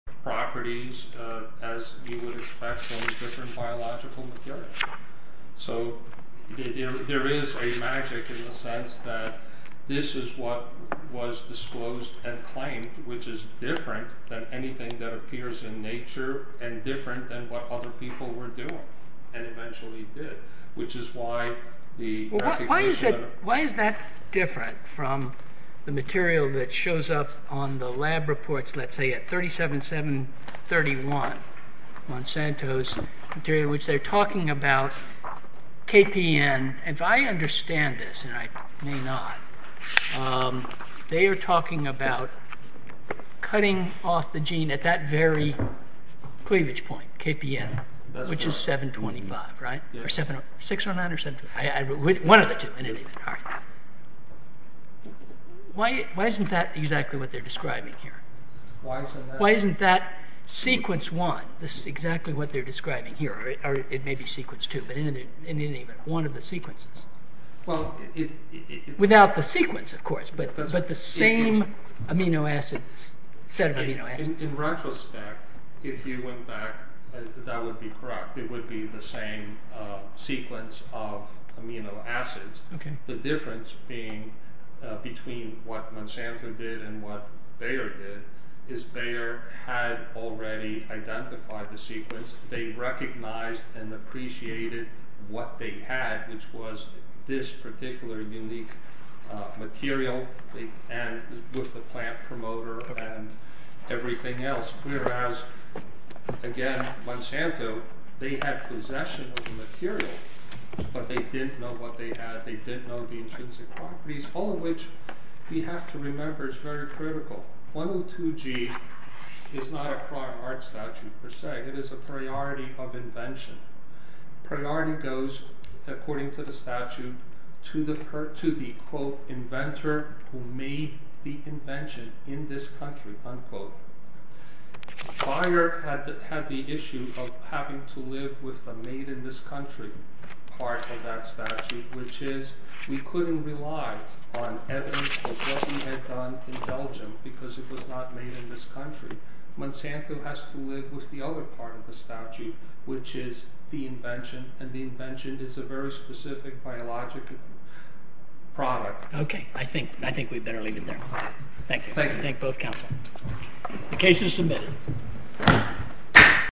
properties as you would expect from different biological materials. So there is a magic in the sense that this is what was disclosed and claimed which is different than anything that appears in nature and different than what other people were doing and eventually did, which is why the recognition of... Why is that different from the material that shows up on the lab reports, let's say at 37731 Monsanto's material, which they're talking about KPN. If I understand this, and I may not, they are talking about cutting off the gene at that very cleavage point, KPN, which is 725, right? 609 or 725? One of the two, in any event. Why isn't that exactly what they're describing here? Why isn't that sequence one? This is exactly what they're describing here. It may be sequence two, but in any event, one of the sequences. Without the sequence, of course, but the same amino acid, set of amino acids. In retrospect, if you went back, that would be correct. It would be the same sequence of amino acids. The difference being between what Monsanto did and what Bayer did is Bayer had already identified the sequence. They recognized and appreciated what they had, which was this particular unique material with the plant promoter and everything else, whereas, again, Monsanto, they had possession of the material, but they didn't know what they had. They didn't know the intrinsic properties, all of which we have to remember is very critical. 102G is not a prior art statute per se. It is a priority of invention. Priority goes, according to the statute, to the, quote, inventor who made the invention in this country, unquote. Bayer had the issue of having to live with the made in this country part of that statute, which is we couldn't rely on evidence of what he had done in Belgium because it was not made in this country. Monsanto has to live with the other part of the statute, which is the invention, and the invention is a very specific biologic product. Okay, I think we'd better leave it there. Thank you. Thank you. Thank both counsel. The case is submitted.